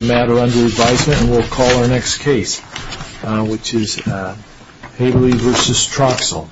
matter under advisement and we'll call our next case, which is Haberle v. Troxell.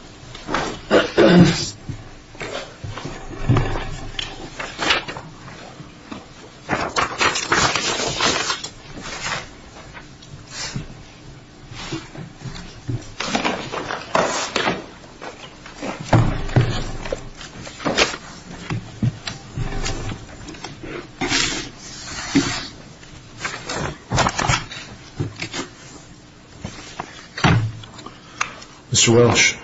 Mr. Walsh.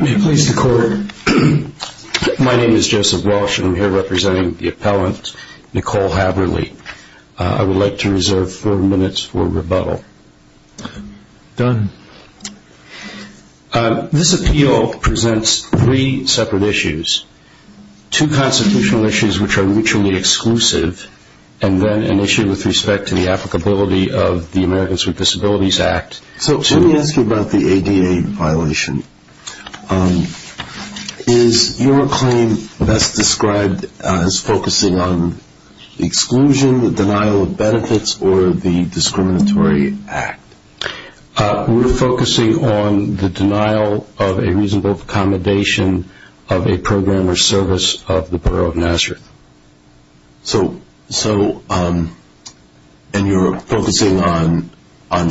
May it please the court, my name is Joseph Walsh and I'm here representing the appellant, Nicole Haberle. I would like to reserve four minutes for rebuttal. Done. This appeal presents three separate issues. Two constitutional issues which are mutually exclusive and then an issue with respect to the applicability of the Americans with Disabilities Act. So let me ask you about the ADA violation. Is your claim best described as focusing on exclusion, denial of benefits, or the discriminatory act? We're focusing on the denial of a reasonable accommodation of a program or service of the borough of Nazareth. So, and you're focusing on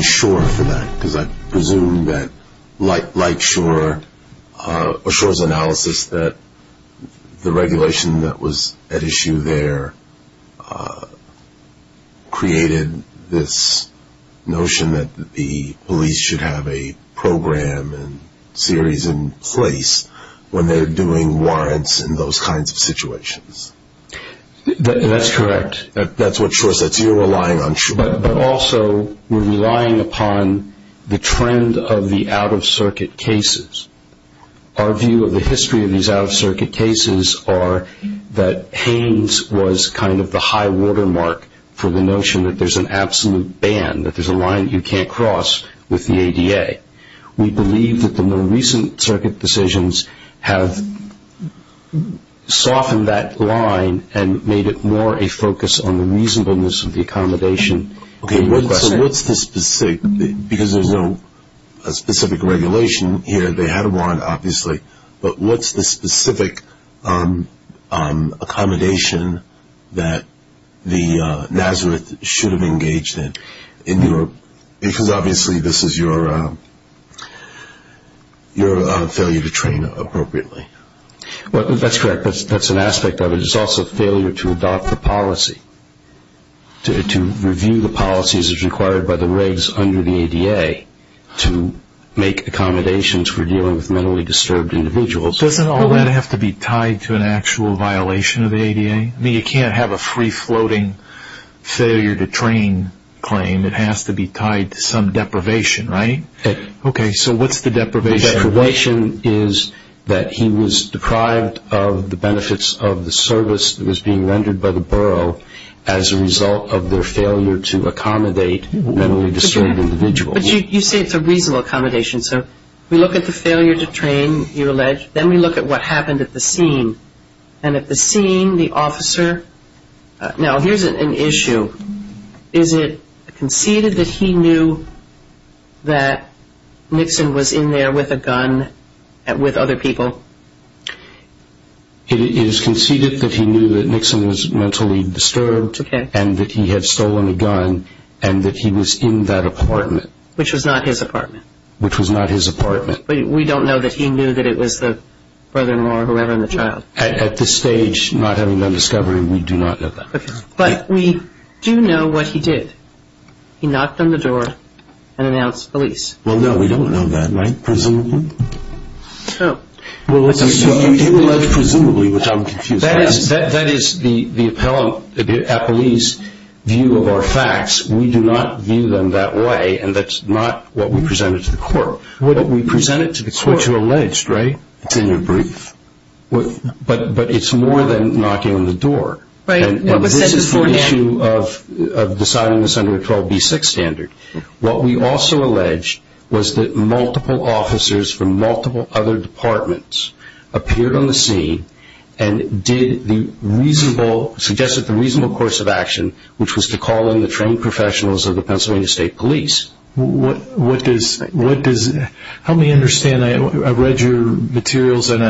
shore for that because I presume that like shore, or shore's analysis that the regulation that was at issue there created this notion that the police should have a program and series in place when they're doing warrants in those kinds of situations. That's correct. That's what shore says. You're relying on shore. But also, we're relying upon the trend of the out-of-circuit cases. Our view of the history of these out-of-circuit cases are that Haynes was kind of the high watermark for the notion that there's an absolute ban, that there's a line you can't cross with the ADA. We believe that the more recent circuit decisions have softened that line and made it more a focus on the reasonableness of the specific regulation here. They had a warrant, obviously, but what's the specific accommodation that the Nazareth should have engaged in? Because obviously this is your failure to train appropriately. That's correct. That's an aspect of it. It's also failure to adopt the policy, to review the policies as required by the regs under the ADA to make accommodations for dealing with mentally disturbed individuals. Doesn't all that have to be tied to an actual violation of the ADA? I mean, you can't have a free-floating failure to train claim. It has to be tied to some deprivation, right? Okay, so what's the deprivation? The deprivation is that he was deprived of the benefits of the service that was being rendered by the borough as a result of their failure to accommodate mentally disturbed individuals. But you say it's a reasonable accommodation. So we look at the failure to train, you allege, then we look at what happened at the scene. And at the scene, the officer, now here's an issue. Is it conceded that he knew that Nixon was in there with a gun with other people? It is conceded that he knew that Nixon was mentally disturbed and that he had stolen a gun and that he was in that apartment. Which was not his apartment. Which was not his apartment. But we don't know that he knew that it was the brother-in-law or whoever and the child. At this stage, not having done discovery, we do not know that. But we do know what he did. He knocked on the door and announced police. Well, no, we don't know that, right? Presumably. So you allege presumably, which I'm confused That is the police view of our facts. We do not view them that way and that's not what we presented to the court. But we presented to the court It's what you allege, right? It's in your brief. But it's more than knocking on the door. And this is the issue of deciding this under a 12B6 standard. What we also allege was that multiple officers from multiple other departments appeared on the scene and suggested the reasonable course of action, which was to call in the trained professionals of the Pennsylvania State Police. What does, help me understand, I've read your materials and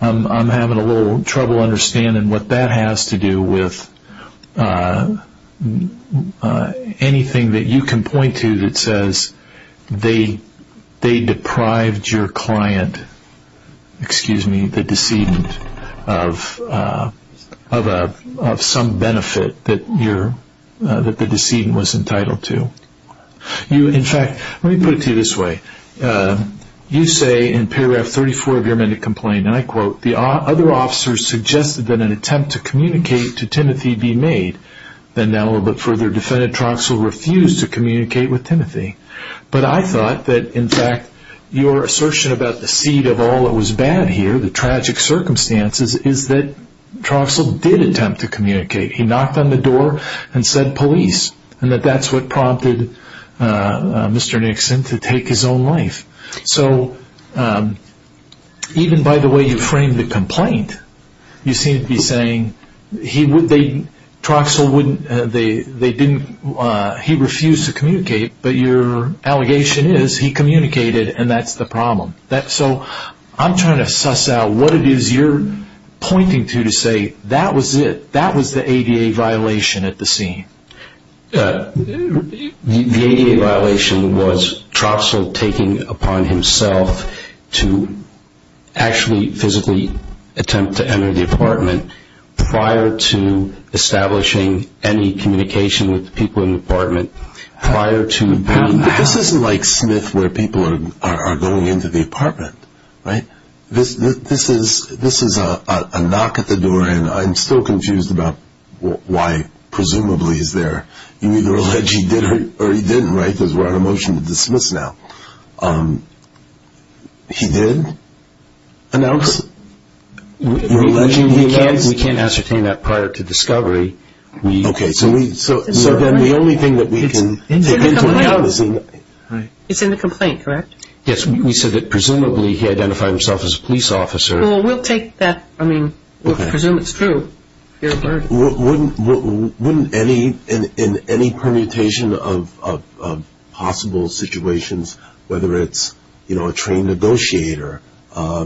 I'm having a little trouble understanding what that has to do with anything that you can point to that says they deprived your client, excuse me, the decedent of some benefit that the decedent was entitled to. In fact, let me put it to you this way. You say in paragraph 34 of your minute complaint, and I quote, the other officers suggested that an attempt to communicate to Timothy be made. Then now the further defendant, Troxell, refused to communicate with Timothy. But I thought that, in fact, your assertion about the seed of all that was bad here, the tragic circumstances, is that Troxell did attempt to communicate. He knocked on the door and said police. And that's what prompted Mr. Nixon to take his own life. So even by the way you framed the complaint, you seem to be saying, Troxell, he refused to communicate, but your allegation is he communicated and that's the problem. So I'm trying to suss out what it is you're pointing to to say that was it, that was the ADA violation at the scene. The ADA violation was Troxell taking upon himself to actually physically attempt to communicate with the people in the apartment prior to the... This isn't like Smith where people are going into the apartment, right? This is a knock at the door, and I'm still confused about why presumably he's there. You either allege he did or he didn't, right? Because we're on a motion to dismiss now. He did? No, we can't ascertain that prior to discovery. Okay, so then the only thing that we can take into account is... It's in the complaint, correct? Yes, we said that presumably he identified himself as a police officer. Well, we'll take that, I mean, we'll presume it's true. Wouldn't any, in any permutation of possible situations, whether it's a trained negotiator, a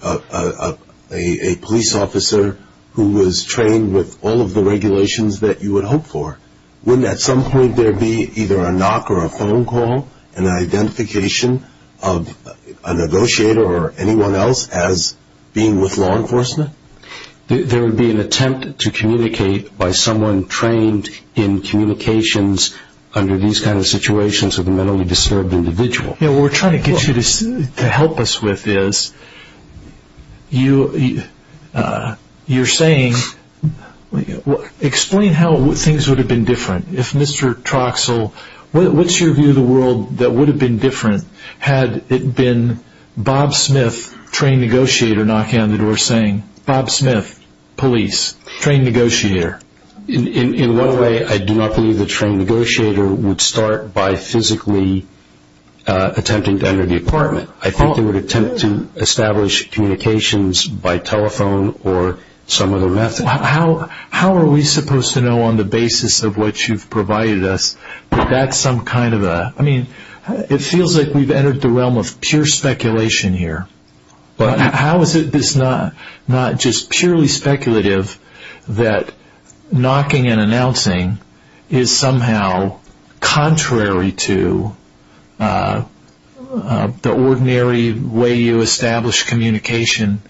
police officer who was trained with all of the regulations that you would hope for, wouldn't at some point there be either a knock or a phone call, an identification of a negotiator or anyone else as being with law enforcement? There would be an attempt to communicate by someone trained in communications under these kinds of situations with a mentally disturbed individual. What we're trying to get you to help us with is, you're saying, explain how things would have been different. If Mr. Troxel, what's your view of the world that would have been different had it been Bob Smith, trained negotiator, knocking on the door saying, Bob Smith, police, trained negotiator? In one way, I do not believe the trained negotiator would start by physically attempting to enter the apartment. I think they would attempt to establish communications by telephone or some other method. How are we supposed to know on the basis of what you've provided us that that's some kind of a, I mean, it feels like we've entered the realm of pure speculation here. But how is it that it's not just purely speculative that knocking and announcing is somehow contrary to the ordinary way you establish communication?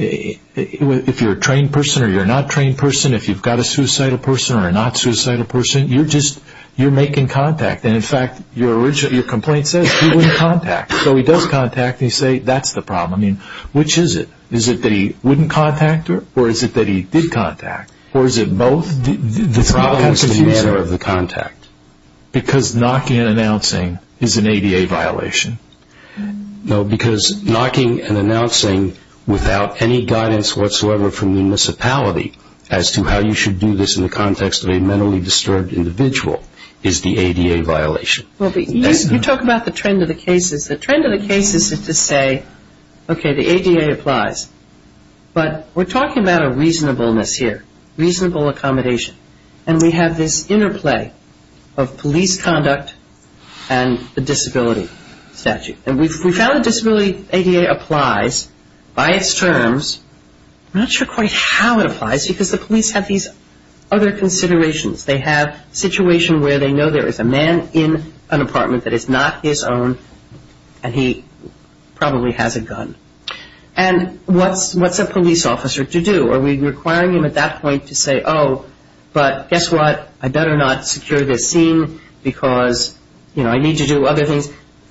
If you're a trained person or you're not a trained person, if you've got a suicidal person or a not suicidal person, you're making contact. In fact, your complaint says he wouldn't contact. So he does contact and you say that's the problem. I mean, which is it? Is it that he wouldn't contact or is it that he did contact? Or is it both? The problem is the manner of the contact. Because knocking and announcing is an ADA violation. No, because knocking and announcing without any guidance whatsoever from the municipality as to how you should do this in the context of a mentally disturbed individual is the ADA violation. Well, you talk about the trend of the cases. The trend of the cases is to say, okay, the ADA applies. But we're talking about a reasonableness here, reasonable accommodation. And we have this interplay of police conduct and the disability statute. And we found the disability ADA applies by its terms. I'm not sure quite how it applies because the police have these other considerations. They have situation where they know there is a man in an apartment that is not his own and he probably has a gun. And what's a police officer to do? Are we requiring him at that point to say, oh, but guess what? I better not secure this scene because, you know, I need to do other things.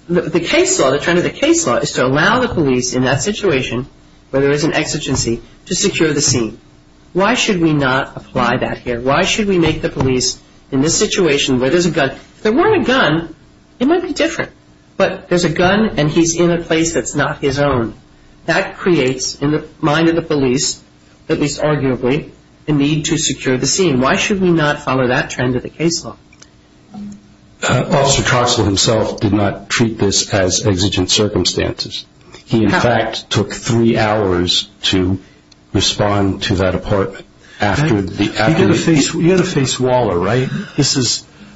The case law, the trend of the case law is to allow the police in that situation where there is an exigency to secure the scene. Why should we not apply that here? Why should we make the police in this situation where there's a gun? If there weren't a gun, it might be different. But there's a gun and he's in a place that's not his own. That creates in the mind of the police, at least arguably, a need to secure the scene. Why should we not follow that trend of the case law? Officer Troxell himself did not treat this as exigent circumstances. He, in fact, took three hours to respond to that apartment. You've got to face Waller, right?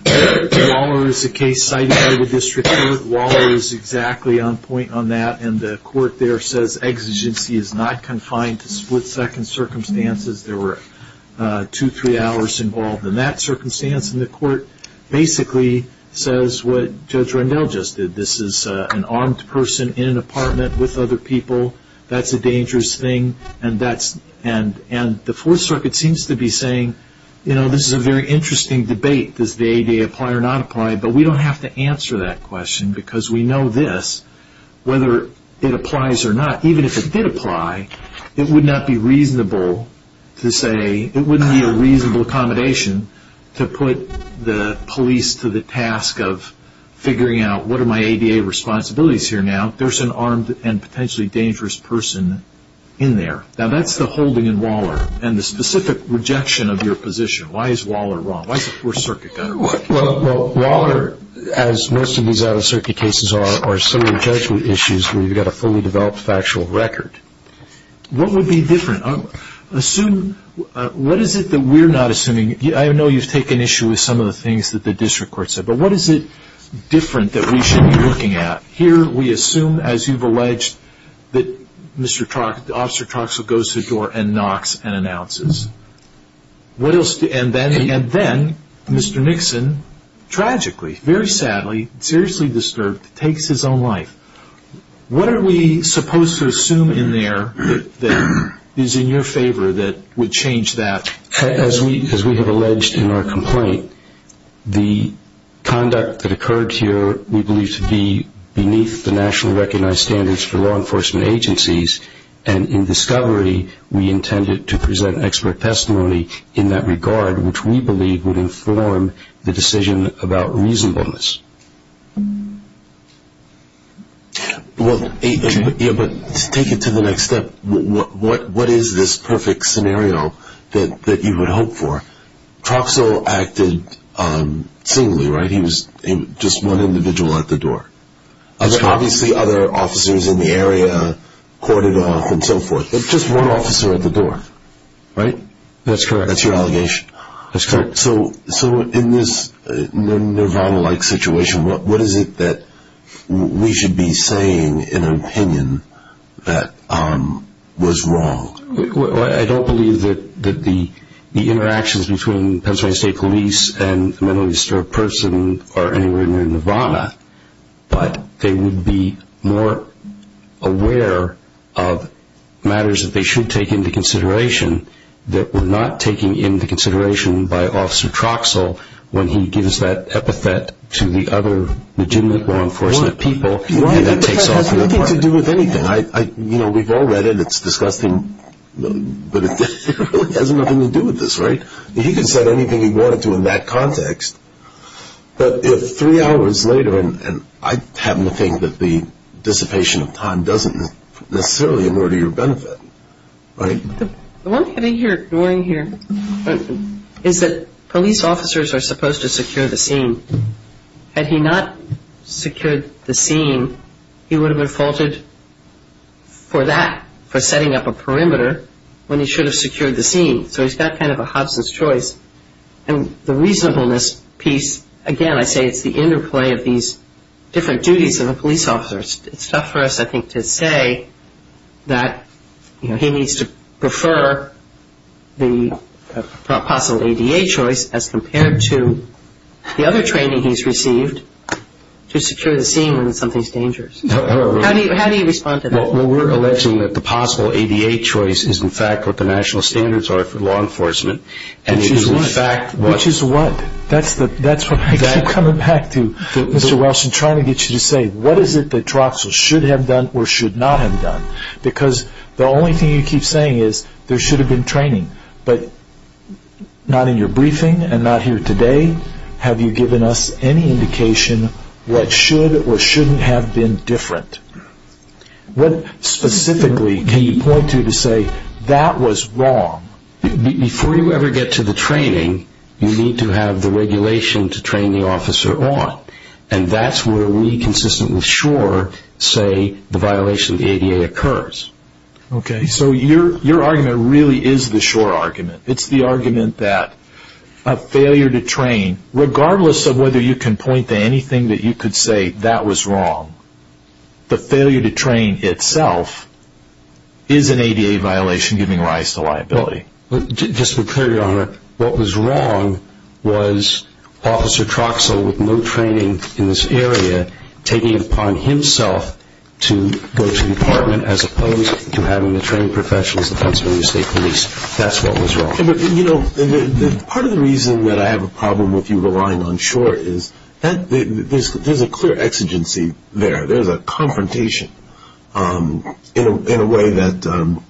Waller is a case cited by the district court. Waller is exactly on point on that. And the court there says exigency is not confined to split-second circumstances. There were two, three hours involved in that circumstance. And the court basically says what Judge Rendell just did. This is an armed person in an apartment with other people. That's a dangerous thing. And the Fourth Circuit seems to be saying, you know, this is a very interesting debate. Does the ADA apply or not apply? But we don't have to answer that question because we know this, whether it applies or not. Even if it did apply, it would not be reasonable to say, it wouldn't be a reasonable accommodation to put the police to the task of figuring out, what are my ADA responsibilities here now? There's an armed and potentially dangerous person in there. Now, that's the holding in Waller and the specific rejection of your position. Why is Waller wrong? Why is the Fourth Circuit going to work? Well, Waller, as most of these out-of-circuit cases are, are similar judgment issues where you've got a fully developed factual record. What would be different? Assume, what is it that we're not assuming? I know you've taken issue with some of the things that the district court said, but what is it different that we should be looking at? Here we assume, as you've alleged, that Officer Troxell goes to the door and knocks and announces. And then Mr. Nixon, tragically, very sadly, seriously disturbed, takes his own life. What are we supposed to assume in there that is in your favor that would change that? As we have alleged in our complaint, the conduct that occurred here, we believe, to be beneath the nationally recognized standards for law enforcement agencies. And in discovery, we intended to present expert testimony in that regard, which we believe would inform the decision about reasonableness. Take it to the next step. What is this perfect scenario that you would hope for? Troxell acted singly, right? He was just one individual at the door. Obviously, other officers in the area courted off and so forth. But just one officer at the door, right? That's correct. That's your allegation? That's correct. So in this Nirvana-like situation, what is it that we should be saying in an opinion that was wrong? Well, I don't believe that the interactions between Pennsylvania State Police and a mentally disturbed person are anywhere near Nirvana, but they would be more aware of matters that they should take into consideration that were not taken into consideration by Officer Troxell when he gives that epithet to the other legitimate law enforcement people. That epithet has nothing to do with anything. You know, we've all read it. It's disgusting, but it really has nothing to do with this, right? He can say anything he wanted to in that context. But if three hours later, and I happen to think that the dissipation of time doesn't necessarily in order your benefit, right? The one thing you're ignoring here is that police officers are supposed to secure the scene. Had he not secured the scene, he would have been faulted for that, for setting up a perimeter when he should have secured the scene. So he's got kind of a Hobson's choice, and the reasonableness piece, again, I say it's the interplay of these different duties of a police officer. It's tough for us, I think, to say that, you know, that he needs to prefer the possible ADA choice as compared to the other training he's received to secure the scene when something's dangerous. How do you respond to that? Well, we're alleging that the possible ADA choice is, in fact, what the national standards are for law enforcement. Which is what? Which is what? That's what I keep coming back to, Mr. Wilson, trying to get you to say, what is it that Troxell should have done or should not have done? Because the only thing you keep saying is, there should have been training. But not in your briefing and not here today have you given us any indication what should or shouldn't have been different. What specifically can you point to to say, that was wrong? Before you ever get to the training, you need to have the regulation to train the officer on. And that's where we, consistently sure, say the violation of the ADA occurs. Okay, so your argument really is the sure argument. It's the argument that a failure to train, regardless of whether you can point to anything that you could say that was wrong, the failure to train itself is an ADA violation giving rise to liability. Just to be clear, Your Honor, what was wrong was Officer Troxell, with no training in this area, taking it upon himself to go to the department, as opposed to having the trained professionals, the Pennsylvania State Police. That's what was wrong. You know, part of the reason that I have a problem with you relying on short is, there's a clear exigency there. There's a confrontation in a way that,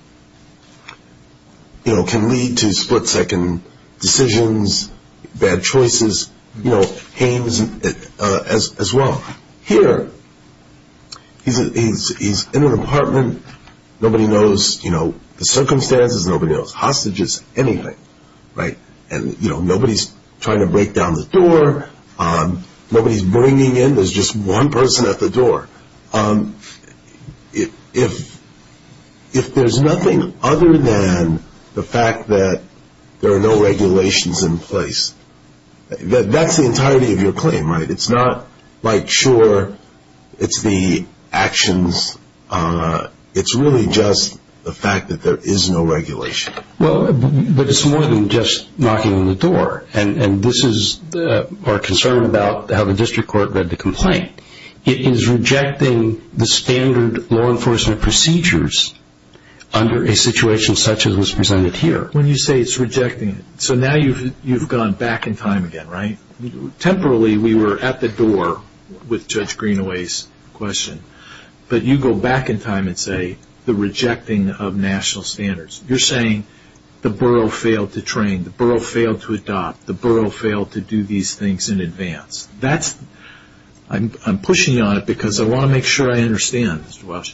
you know, can lead to split-second decisions, bad choices, you know, Hames as well. Here, he's in an apartment, nobody knows, you know, the circumstances, nobody knows hostages, anything, right? And, you know, nobody's trying to break down the door, nobody's bringing in, there's just one person at the door. If there's nothing other than the fact that there are no regulations in place, that's the entirety of your claim, right? It's not like, sure, it's the actions, it's really just the fact that there is no regulation. Well, but it's more than just knocking on the door, and this is our concern about how the district court read the complaint. It is rejecting the standard law enforcement procedures under a situation such as was presented here. When you say it's rejecting, so now you've gone back in time again, right? Temporarily, we were at the door with Judge Greenaway's question, but you go back in time and say the rejecting of national standards. You're saying the borough failed to train, the borough failed to adopt, the borough failed to do these things in advance. I'm pushing you on it because I want to make sure I understand, Mr. Welsh.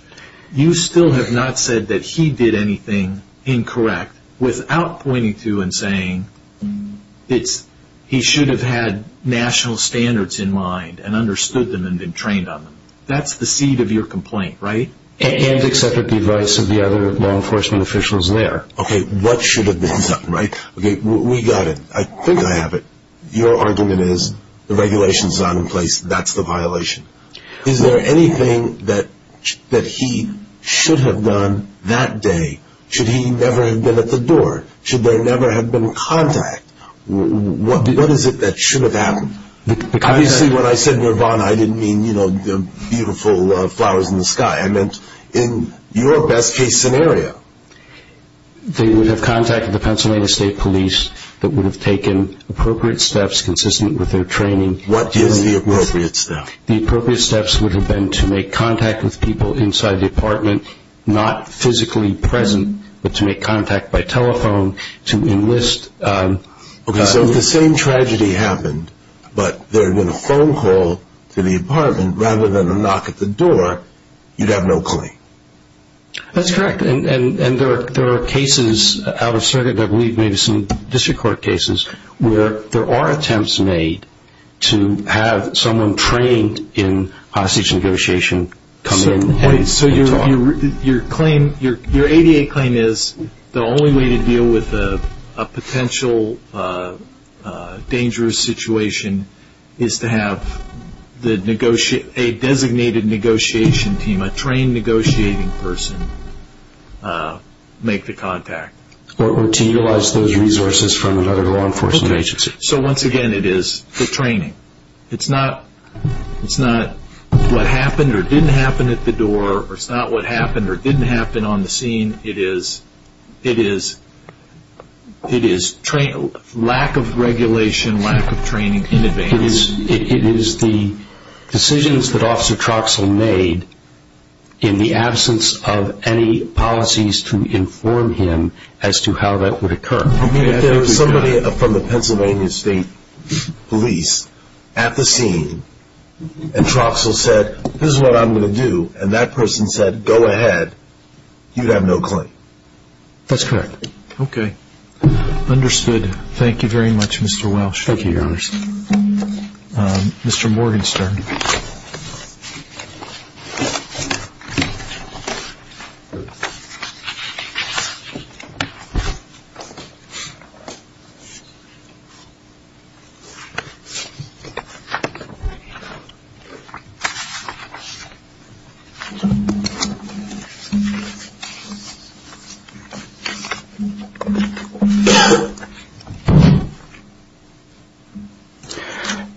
You still have not said that he did anything incorrect without pointing to and saying he should have had national standards in mind and understood them and been trained on them. That's the seed of your complaint, right? And accepted the advice of the other law enforcement officials there. Okay, what should have been done, right? Okay, we got it. I think I have it. Your argument is the regulation is not in place, that's the violation. Is there anything that he should have done that day? Should he never have been at the door? Should there never have been contact? What is it that should have happened? Obviously when I said Nirvana, I didn't mean beautiful flowers in the sky. I meant in your best case scenario. They would have contacted the Pennsylvania State Police that would have taken appropriate steps consistent with their training. What is the appropriate step? The appropriate steps would have been to make contact with people inside the apartment, not physically present, but to make contact by telephone to enlist. Okay, so if the same tragedy happened but there had been a phone call to the apartment rather than a knock at the door, you'd have no claim. That's correct. And there are cases out of circuit that we've made some district court cases where there are attempts made to have someone trained in hostage negotiation come in and talk. So your ADA claim is the only way to deal with a potential dangerous situation is to have a designated negotiation team, a trained negotiating person, make the contact. Or to utilize those resources from another law enforcement agency. So once again, it is the training. It's not what happened or didn't happen at the door, or it's not what happened or didn't happen on the scene. It is lack of regulation, lack of training in advance. It is the decisions that Officer Troxell made in the absence of any policies to inform him as to how that would occur. I mean, if there was somebody from the Pennsylvania State Police at the scene and Troxell said, this is what I'm going to do, and that person said, go ahead, you'd have no claim. That's correct. Okay, understood. Thank you very much, Mr. Welsh. Thank you, Your Honor. Mr. Morgenstern.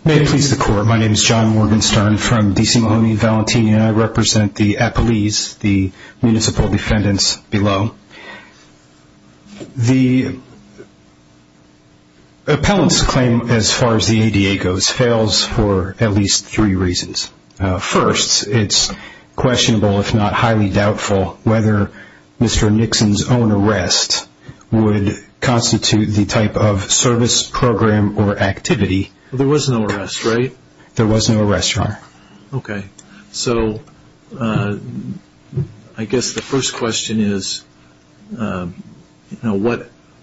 May it please the Court. My name is John Morgenstern from D.C. Mahoney, Valentina, and I represent the Appalese, the municipal defendants below. The appellant's claim, as far as the ADA goes, fails for at least three reasons. First, it's questionable, if not highly doubtful, whether Mr. Nixon's own arrest would constitute the type of service, program, or activity. There was no arrest, right? There was no arrest, Your Honor. Okay. So I guess the first question is, you know,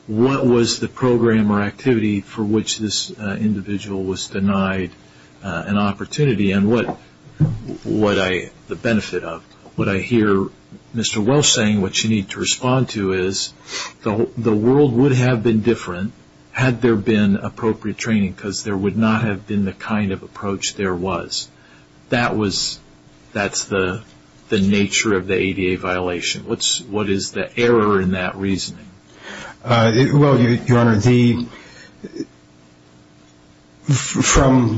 what was the program or activity for which this individual was denied an opportunity, and what would I, the benefit of? What I hear Mr. Welsh saying, what you need to respond to, is the world would have been different had there been appropriate training, because there would not have been the kind of approach there was. That's the nature of the ADA violation. What is the error in that reasoning? Well, Your Honor, from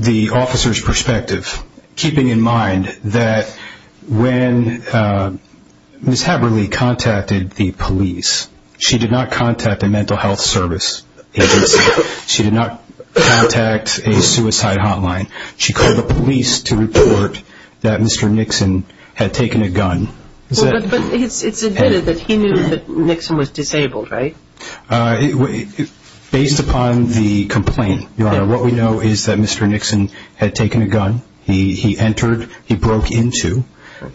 the officer's perspective, keeping in mind that when Ms. Haberly contacted the police, she did not contact a mental health service agency. She did not contact a suicide hotline. She called the police to report that Mr. Nixon had taken a gun. But it's admitted that he knew that Nixon was disabled, right? Based upon the complaint, Your Honor, what we know is that Mr. Nixon had taken a gun. He entered, he broke into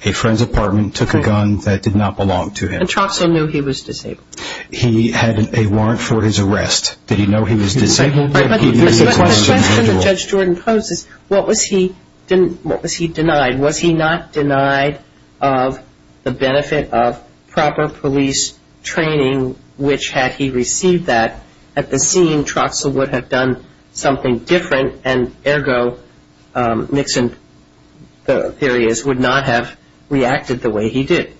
a friend's apartment, took a gun that did not belong to him. And Tromso knew he was disabled. He had a warrant for his arrest. Did he know he was disabled? The question that Judge Jordan poses, what was he denied? Was he not denied of the benefit of proper police training, which had he received that, at the scene Tromso would have done something different, and ergo Nixon, the theory is, would not have reacted the way he did.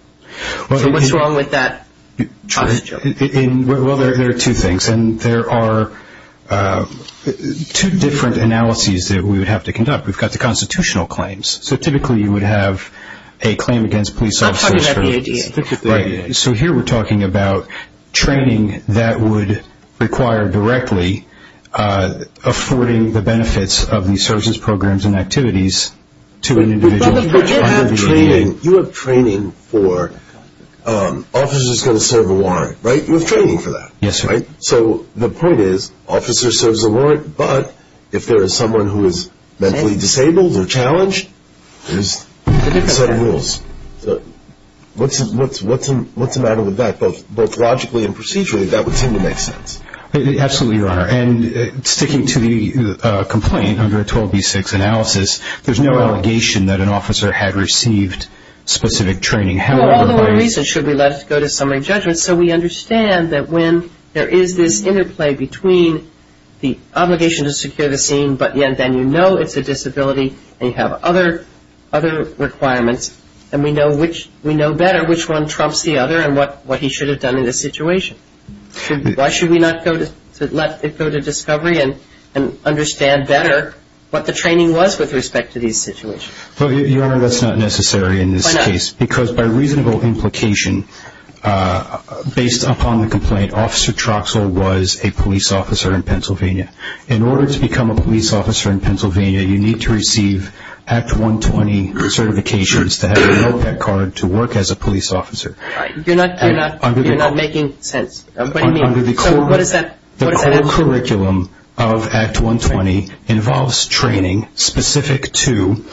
So what's wrong with that? Well, there are two things. And there are two different analyses that we would have to conduct. We've got the constitutional claims. So typically you would have a claim against police officers. I'm talking about the ADA. Right. So here we're talking about training that would require directly affording the benefits of these services, programs, and activities to an individual under the ADA. You have training for officers going to serve a warrant, right? You have training for that, right? Yes, sir. So the point is, officer serves a warrant, but if there is someone who is mentally disabled or challenged, there's a set of rules. What's the matter with that? Both logically and procedurally, that would seem to make sense. Absolutely, Your Honor. And sticking to the complaint under a 12B6 analysis, there's no allegation that an officer had received specific training. Well, all the more reason should we let it go to summary judgment. So we understand that when there is this interplay between the obligation to secure the scene, but then you know it's a disability and you have other requirements, and we know better which one trumps the other and what he should have done in this situation. Why should we not let it go to discovery and understand better what the training was with respect to these situations? Well, Your Honor, that's not necessary in this case. Why not? Because by reasonable implication, based upon the complaint, Officer Troxell was a police officer in Pennsylvania. In order to become a police officer in Pennsylvania, you need to receive Act 120 certifications to have an OPEC card to work as a police officer. You're not making sense. What do you mean? The core curriculum of Act 120 involves training specific to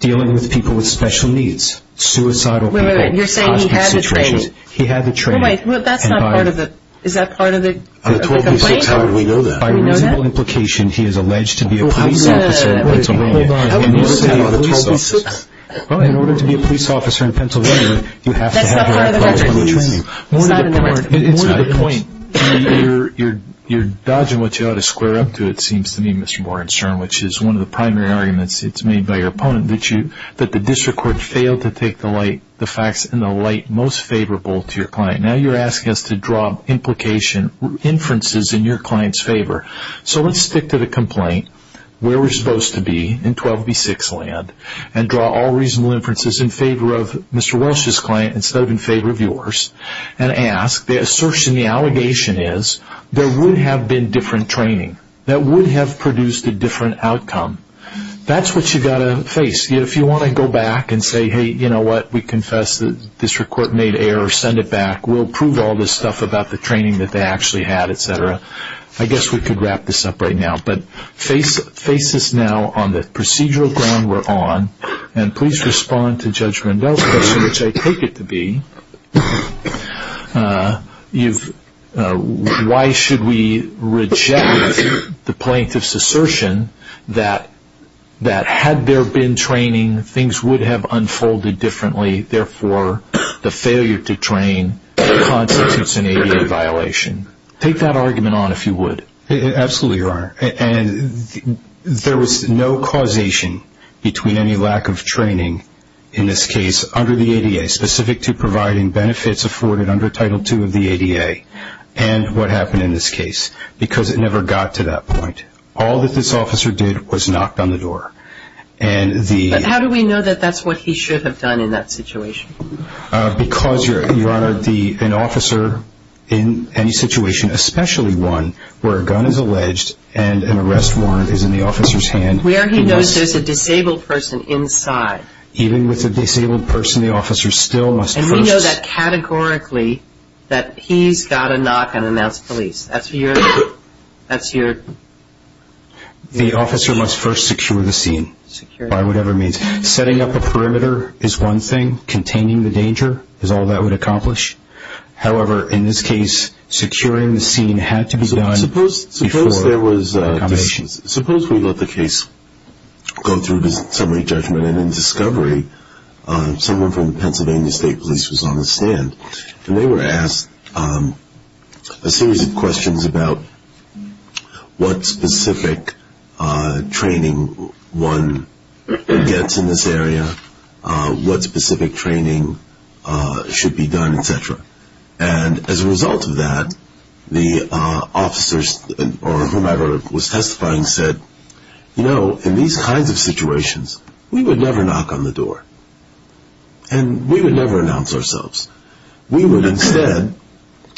dealing with people with special needs, suicidal people. Wait, wait, wait. You're saying he had the training. He had the training. Wait, wait. Is that part of the complaint? On a 12B6, how would we know that? By reasonable implication, he is alleged to be a police officer in Pennsylvania. How would we know that on a 12B6? Well, in order to be a police officer in Pennsylvania, you have to have an Act 120 training. More to the point, you're dodging what you ought to square up to, it seems to me, Mr. Warren Stern, which is one of the primary arguments made by your opponent, that the district court failed to take the facts in the light most favorable to your client. Now you're asking us to draw inferences in your client's favor. So let's stick to the complaint, where we're supposed to be in 12B6 land, and draw all reasonable inferences in favor of Mr. Welsh's client instead of in favor of yours, and ask, the assertion, the allegation is, there would have been different training. That would have produced a different outcome. That's what you've got to face. If you want to go back and say, hey, you know what, we confess the district court made errors, send it back, we'll prove all this stuff about the training that they actually had, etc. I guess we could wrap this up right now. But face us now on the procedural ground we're on, and please respond to Judge Rendell's question, which I take it to be, why should we reject the plaintiff's assertion that had there been training, things would have unfolded differently, therefore the failure to train constitutes an ADA violation. Take that argument on if you would. Absolutely, Your Honor. And there was no causation between any lack of training, in this case, under the ADA, specific to providing benefits afforded under Title II of the ADA, and what happened in this case, because it never got to that point. All that this officer did was knock on the door. But how do we know that that's what he should have done in that situation? Because, Your Honor, an officer in any situation, especially one where a gun is alleged and an arrest warrant is in the officer's hand... Where he knows there's a disabled person inside. Even with a disabled person, the officer still must first... And we know that categorically, that he's got to knock and announce police. That's your... The officer must first secure the scene, by whatever means. Setting up a perimeter is one thing. Containing the danger is all that would accomplish. However, in this case, securing the scene had to be done... Suppose we let the case go through to summary judgment, and in discovery, someone from the Pennsylvania State Police was on the stand, and they were asked a series of questions about what specific training one gets in this area, what specific training should be done, etc. And as a result of that, the officers, or whomever was testifying, said, You know, in these kinds of situations, we would never knock on the door. And we would never announce ourselves. We would instead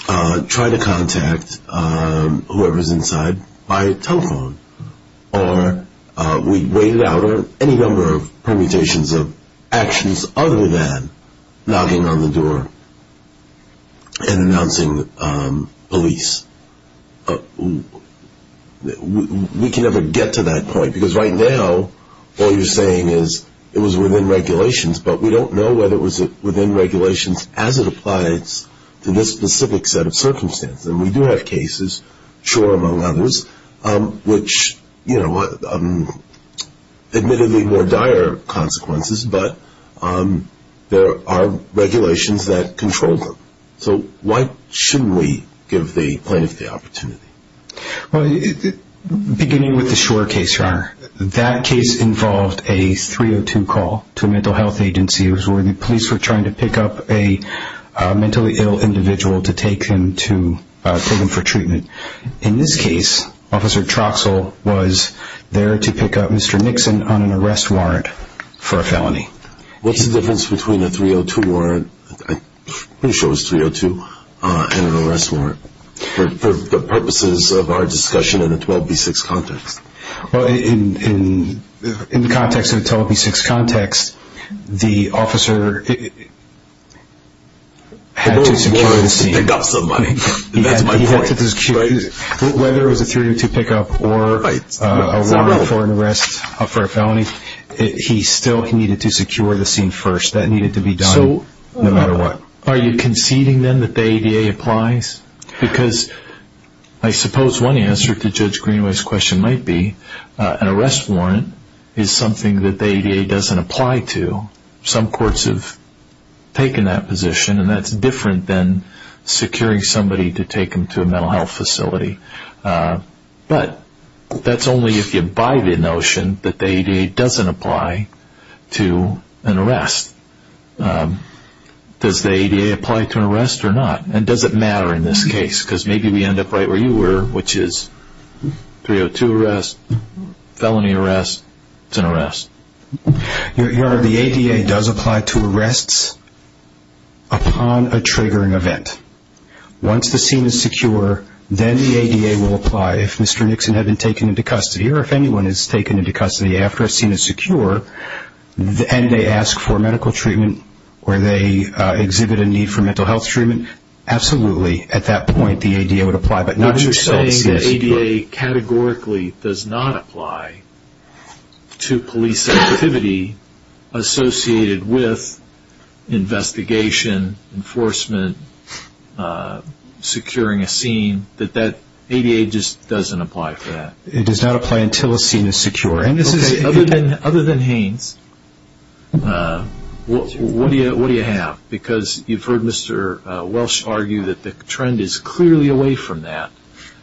try to contact whoever's inside by telephone, or we'd wait it out, or any number of permutations of actions, other than knocking on the door and announcing police. We can never get to that point, because right now, all you're saying is it was within regulations, but we don't know whether it was within regulations as it applies to this specific set of circumstances. And we do have cases, sure, among others, which, you know, admittedly more dire consequences, but there are regulations that control them. So why shouldn't we give the plaintiff the opportunity? Well, beginning with the Shore case, your Honor, that case involved a 302 call to a mental health agency. It was where the police were trying to pick up a mentally ill individual to take him for treatment. In this case, Officer Troxell was there to pick up Mr. Nixon on an arrest warrant for a felony. What's the difference between a 302 warrant, I'm pretty sure it was 302, and an arrest warrant? For purposes of our discussion in a 12B6 context. Well, in the context of a 12B6 context, the officer had to secure the scene. The warrant was to pick up somebody. That's my point. Whether it was a 302 pickup or a warrant for an arrest for a felony, he still needed to secure the scene first. That needed to be done no matter what. Are you conceding then that the ADA applies? Because I suppose one answer to Judge Greenway's question might be an arrest warrant is something that the ADA doesn't apply to. Some courts have taken that position, and that's different than securing somebody to take them to a mental health facility. But that's only if you abide the notion that the ADA doesn't apply to an arrest. Does the ADA apply to an arrest or not? And does it matter in this case? Because maybe we end up right where you were, which is 302 arrest, felony arrest, it's an arrest. Your Honor, the ADA does apply to arrests upon a triggering event. Once the scene is secure, then the ADA will apply. If Mr. Nixon had been taken into custody, or if anyone is taken into custody after a scene is secure, and they ask for medical treatment, or they exhibit a need for mental health treatment, absolutely, at that point, the ADA would apply. But you're saying the ADA categorically does not apply to police activity associated with investigation, enforcement, securing a scene, that the ADA just doesn't apply for that? It does not apply until a scene is secure. Okay. Other than Haynes, what do you have? Because you've heard Mr. Welsh argue that the trend is clearly away from that,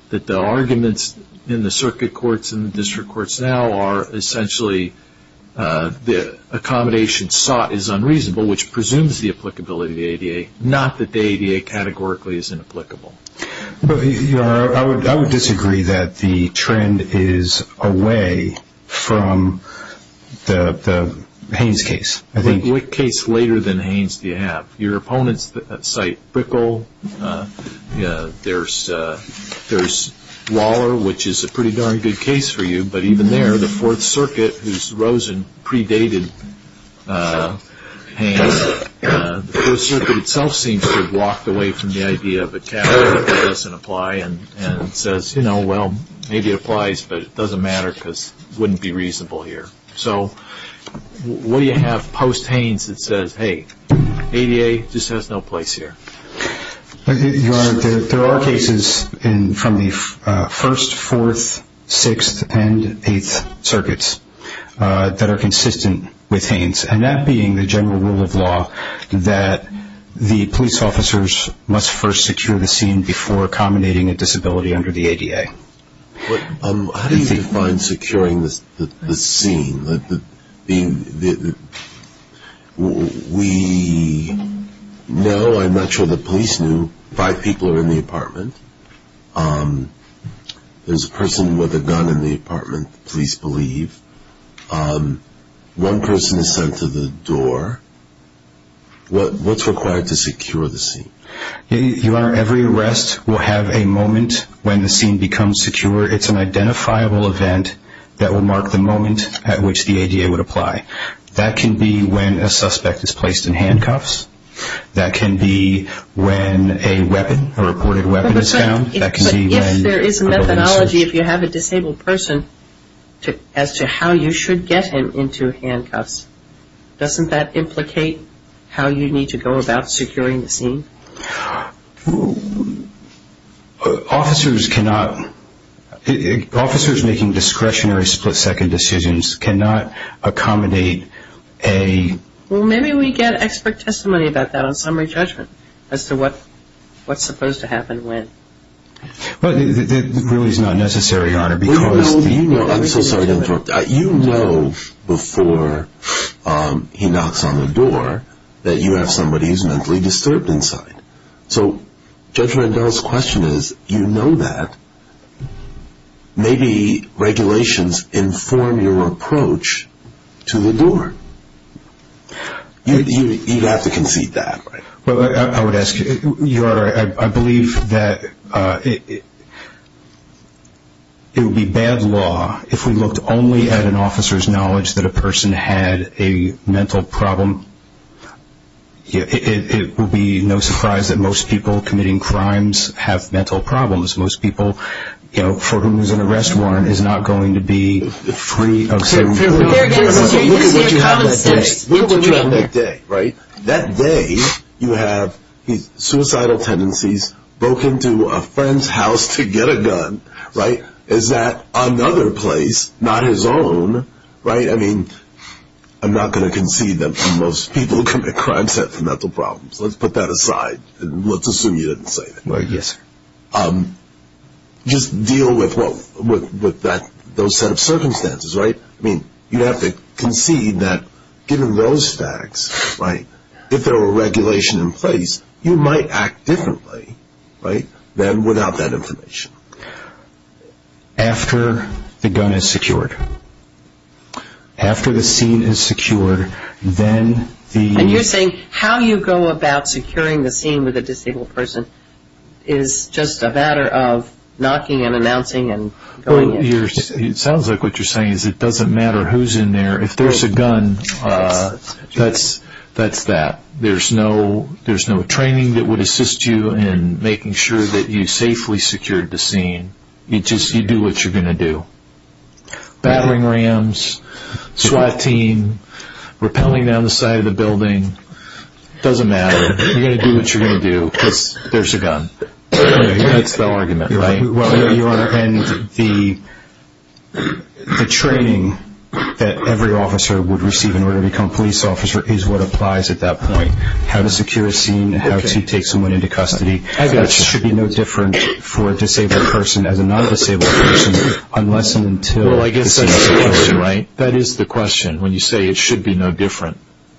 that the arguments in the circuit courts and the district courts now are essentially the accommodation sought is unreasonable, which presumes the applicability of the ADA, not that the ADA categorically is inapplicable. Your Honor, I would disagree that the trend is away from the Haynes case. What case later than Haynes do you have? Your opponents cite Brickell, there's Waller, which is a pretty darn good case for you, but even there, the Fourth Circuit, whose Rosen predated Haynes, the Fourth Circuit itself seems to have walked away from the idea of a category that doesn't apply and says, you know, well, maybe it applies, but it doesn't matter because it wouldn't be reasonable here. So what do you have post-Haynes that says, hey, ADA just has no place here? Your Honor, there are cases from the First, Fourth, Sixth, and Eighth Circuits that are consistent with Haynes, and that being the general rule of law that the police officers must first secure the scene before accommodating a disability under the ADA. How do you define securing the scene? We know, I'm not sure the police knew, five people are in the apartment. There's a person with a gun in the apartment, police believe. One person is sent to the door. What's required to secure the scene? Your Honor, every arrest will have a moment when the scene becomes secure. It's an identifiable event that will mark the moment at which the ADA would apply. That can be when a suspect is placed in handcuffs. That can be when a weapon, a reported weapon is found. But if there is a methodology, if you have a disabled person, as to how you should get him into handcuffs, doesn't that implicate how you need to go about securing the scene? Officers cannot, officers making discretionary split-second decisions cannot accommodate a... Well, maybe we get expert testimony about that on summary judgment as to what's supposed to happen when. But that really is not necessary, Your Honor, because... Well, you know, I'm so sorry to interrupt. You know before he knocks on the door that you have somebody who's mentally disturbed inside. So Judge Rendell's question is, you know that. Maybe regulations inform your approach to the door. You'd have to concede that. Well, I would ask, Your Honor, I believe that it would be bad law if we looked only at an officer's knowledge that a person had a mental problem. It would be no surprise that most people committing crimes have mental problems. Most people, you know, for whom there's an arrest warrant, is not going to be free of some... Look at what you have that day. Look at what you have that day, right? That day, you have suicidal tendencies, broke into a friend's house to get a gun, right? Is that another place, not his own, right? I mean, I'm not going to concede that most people who commit crimes have mental problems. Let's put that aside and let's assume you didn't say that. Yes, sir. Just deal with those set of circumstances, right? I mean, you'd have to concede that given those facts, right, if there were regulation in place, you might act differently, right, than without that information. After the gun is secured, after the scene is secured, then the... And you're saying how you go about securing the scene with a disabled person is just a matter of knocking and announcing and going in. It sounds like what you're saying is it doesn't matter who's in there. If there's a gun, that's that. There's no training that would assist you in making sure that you safely secured the scene. You just do what you're going to do. Battling rams, SWAT team, rappelling down the side of the building, doesn't matter. You're going to do what you're going to do because there's a gun. That's the argument, right? And the training that every officer would receive in order to become a police officer is what applies at that point. How to secure a scene, how to take someone into custody. That should be no different for a disabled person as a non-disabled person unless and until... Well, I guess that's the question, right? That is the question. When you say it should be no different,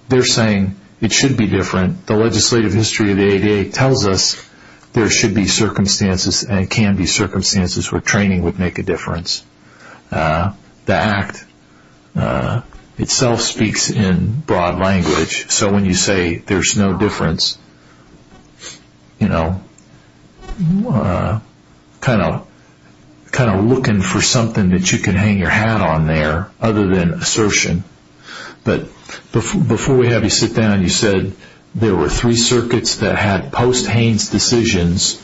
they're saying it should be different. The legislative history of the ADA tells us there should be circumstances and can be circumstances where training would make a difference. The Act itself speaks in broad language. So when you say there's no difference, you know, kind of looking for something that you can hang your hat on there other than assertion. But before we have you sit down, you said there were three circuits that had post-Haynes decisions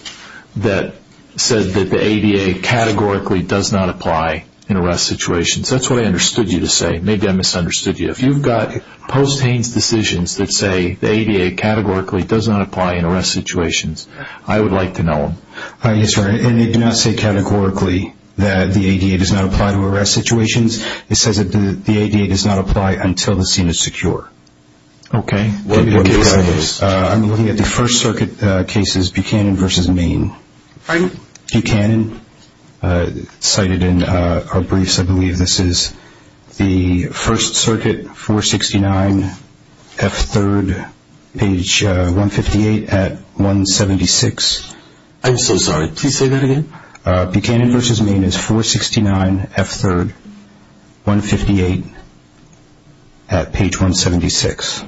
that said that the ADA categorically does not apply in arrest situations. That's what I understood you to say. Maybe I misunderstood you. If you've got post-Haynes decisions that say the ADA categorically does not apply in arrest situations, I would like to know them. Yes, sir. And they do not say categorically that the ADA does not apply to arrest situations. It says that the ADA does not apply until the scene is secure. Okay. What case is this? I'm looking at the First Circuit cases, Buchanan v. Maine. Pardon? Buchanan. Cited in our briefs, I believe this is the First Circuit, 469 F3rd, page 158 at 176. I'm so sorry. Please say that again. Buchanan v. Maine is 469 F3rd, 158 at page 176.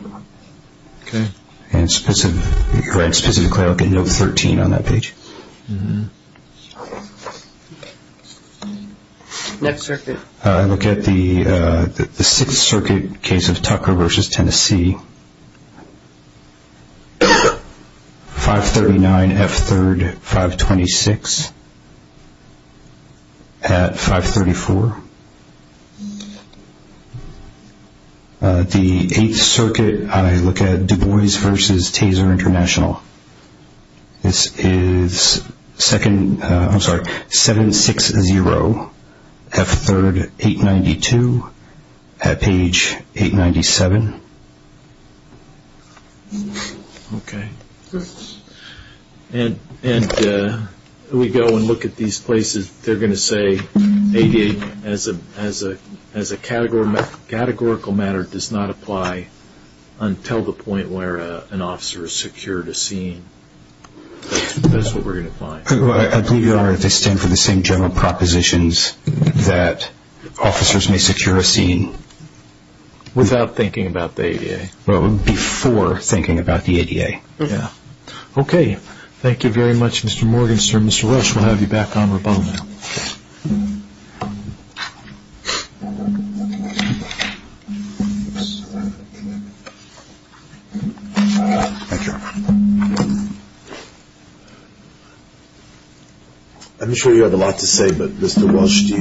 Okay. And specifically, look at note 13 on that page. Next circuit. I look at the Sixth Circuit case of Tucker v. Tennessee, 539 F3rd, 526 at 534. The Eighth Circuit, I look at Du Bois v. Taser International. This is 760 F3rd, 892 at page 897. Okay. And we go and look at these places. They're going to say ADA, as a categorical matter, does not apply until the point where an officer has secured a scene. That's what we're going to find. I believe, Your Honor, they stand for the same general propositions that officers may secure a scene. Without thinking about the ADA. Well, before thinking about the ADA, yeah. Okay. Thank you very much, Mr. Morgenstern. Mr. Welsh, we'll have you back on rebuttal now. Oops. Thank you. I'm sure you have a lot to say, but Mr. Welsh,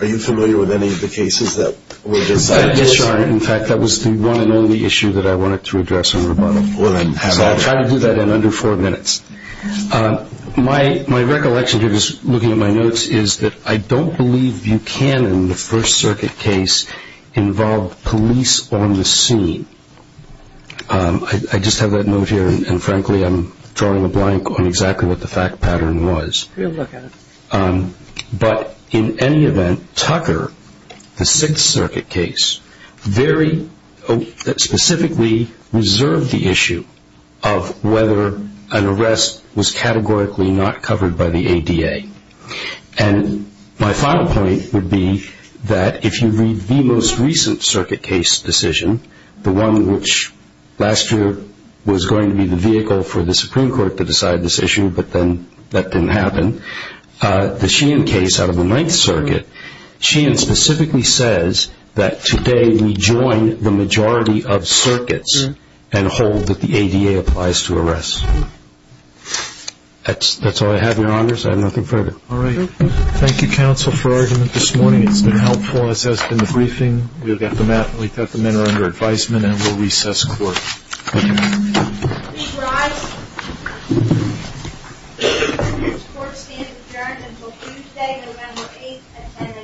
are you familiar with any of the cases that were decided? Yes, Your Honor. In fact, that was the one and only issue that I wanted to address on rebuttal. Well, then have it. I'll try to do that in under four minutes. My recollection, just looking at my notes, is that I don't believe Buchanan, the First Circuit case, involved police on the scene. I just have that note here, and frankly, I'm drawing a blank on exactly what the fact pattern was. Have a look at it. But in any event, Tucker, the Sixth Circuit case, very specifically reserved the issue of whether an arrest was categorically not covered by the ADA. And my final point would be that if you read the most recent circuit case decision, the one which last year was going to be the vehicle for the Supreme Court to decide this issue, but then that didn't happen, the Sheehan case out of the Ninth Circuit, Sheehan specifically says that today we join the majority of circuits and hold that the ADA applies to arrests. That's all I have, Your Honors. I have nothing further. All right. Thank you, counsel, for argument this morning. It's been helpful. As has been the briefing. Thank you. Please rise. The Supreme Court stands adjourned until Tuesday, November 8th at 10 a.m.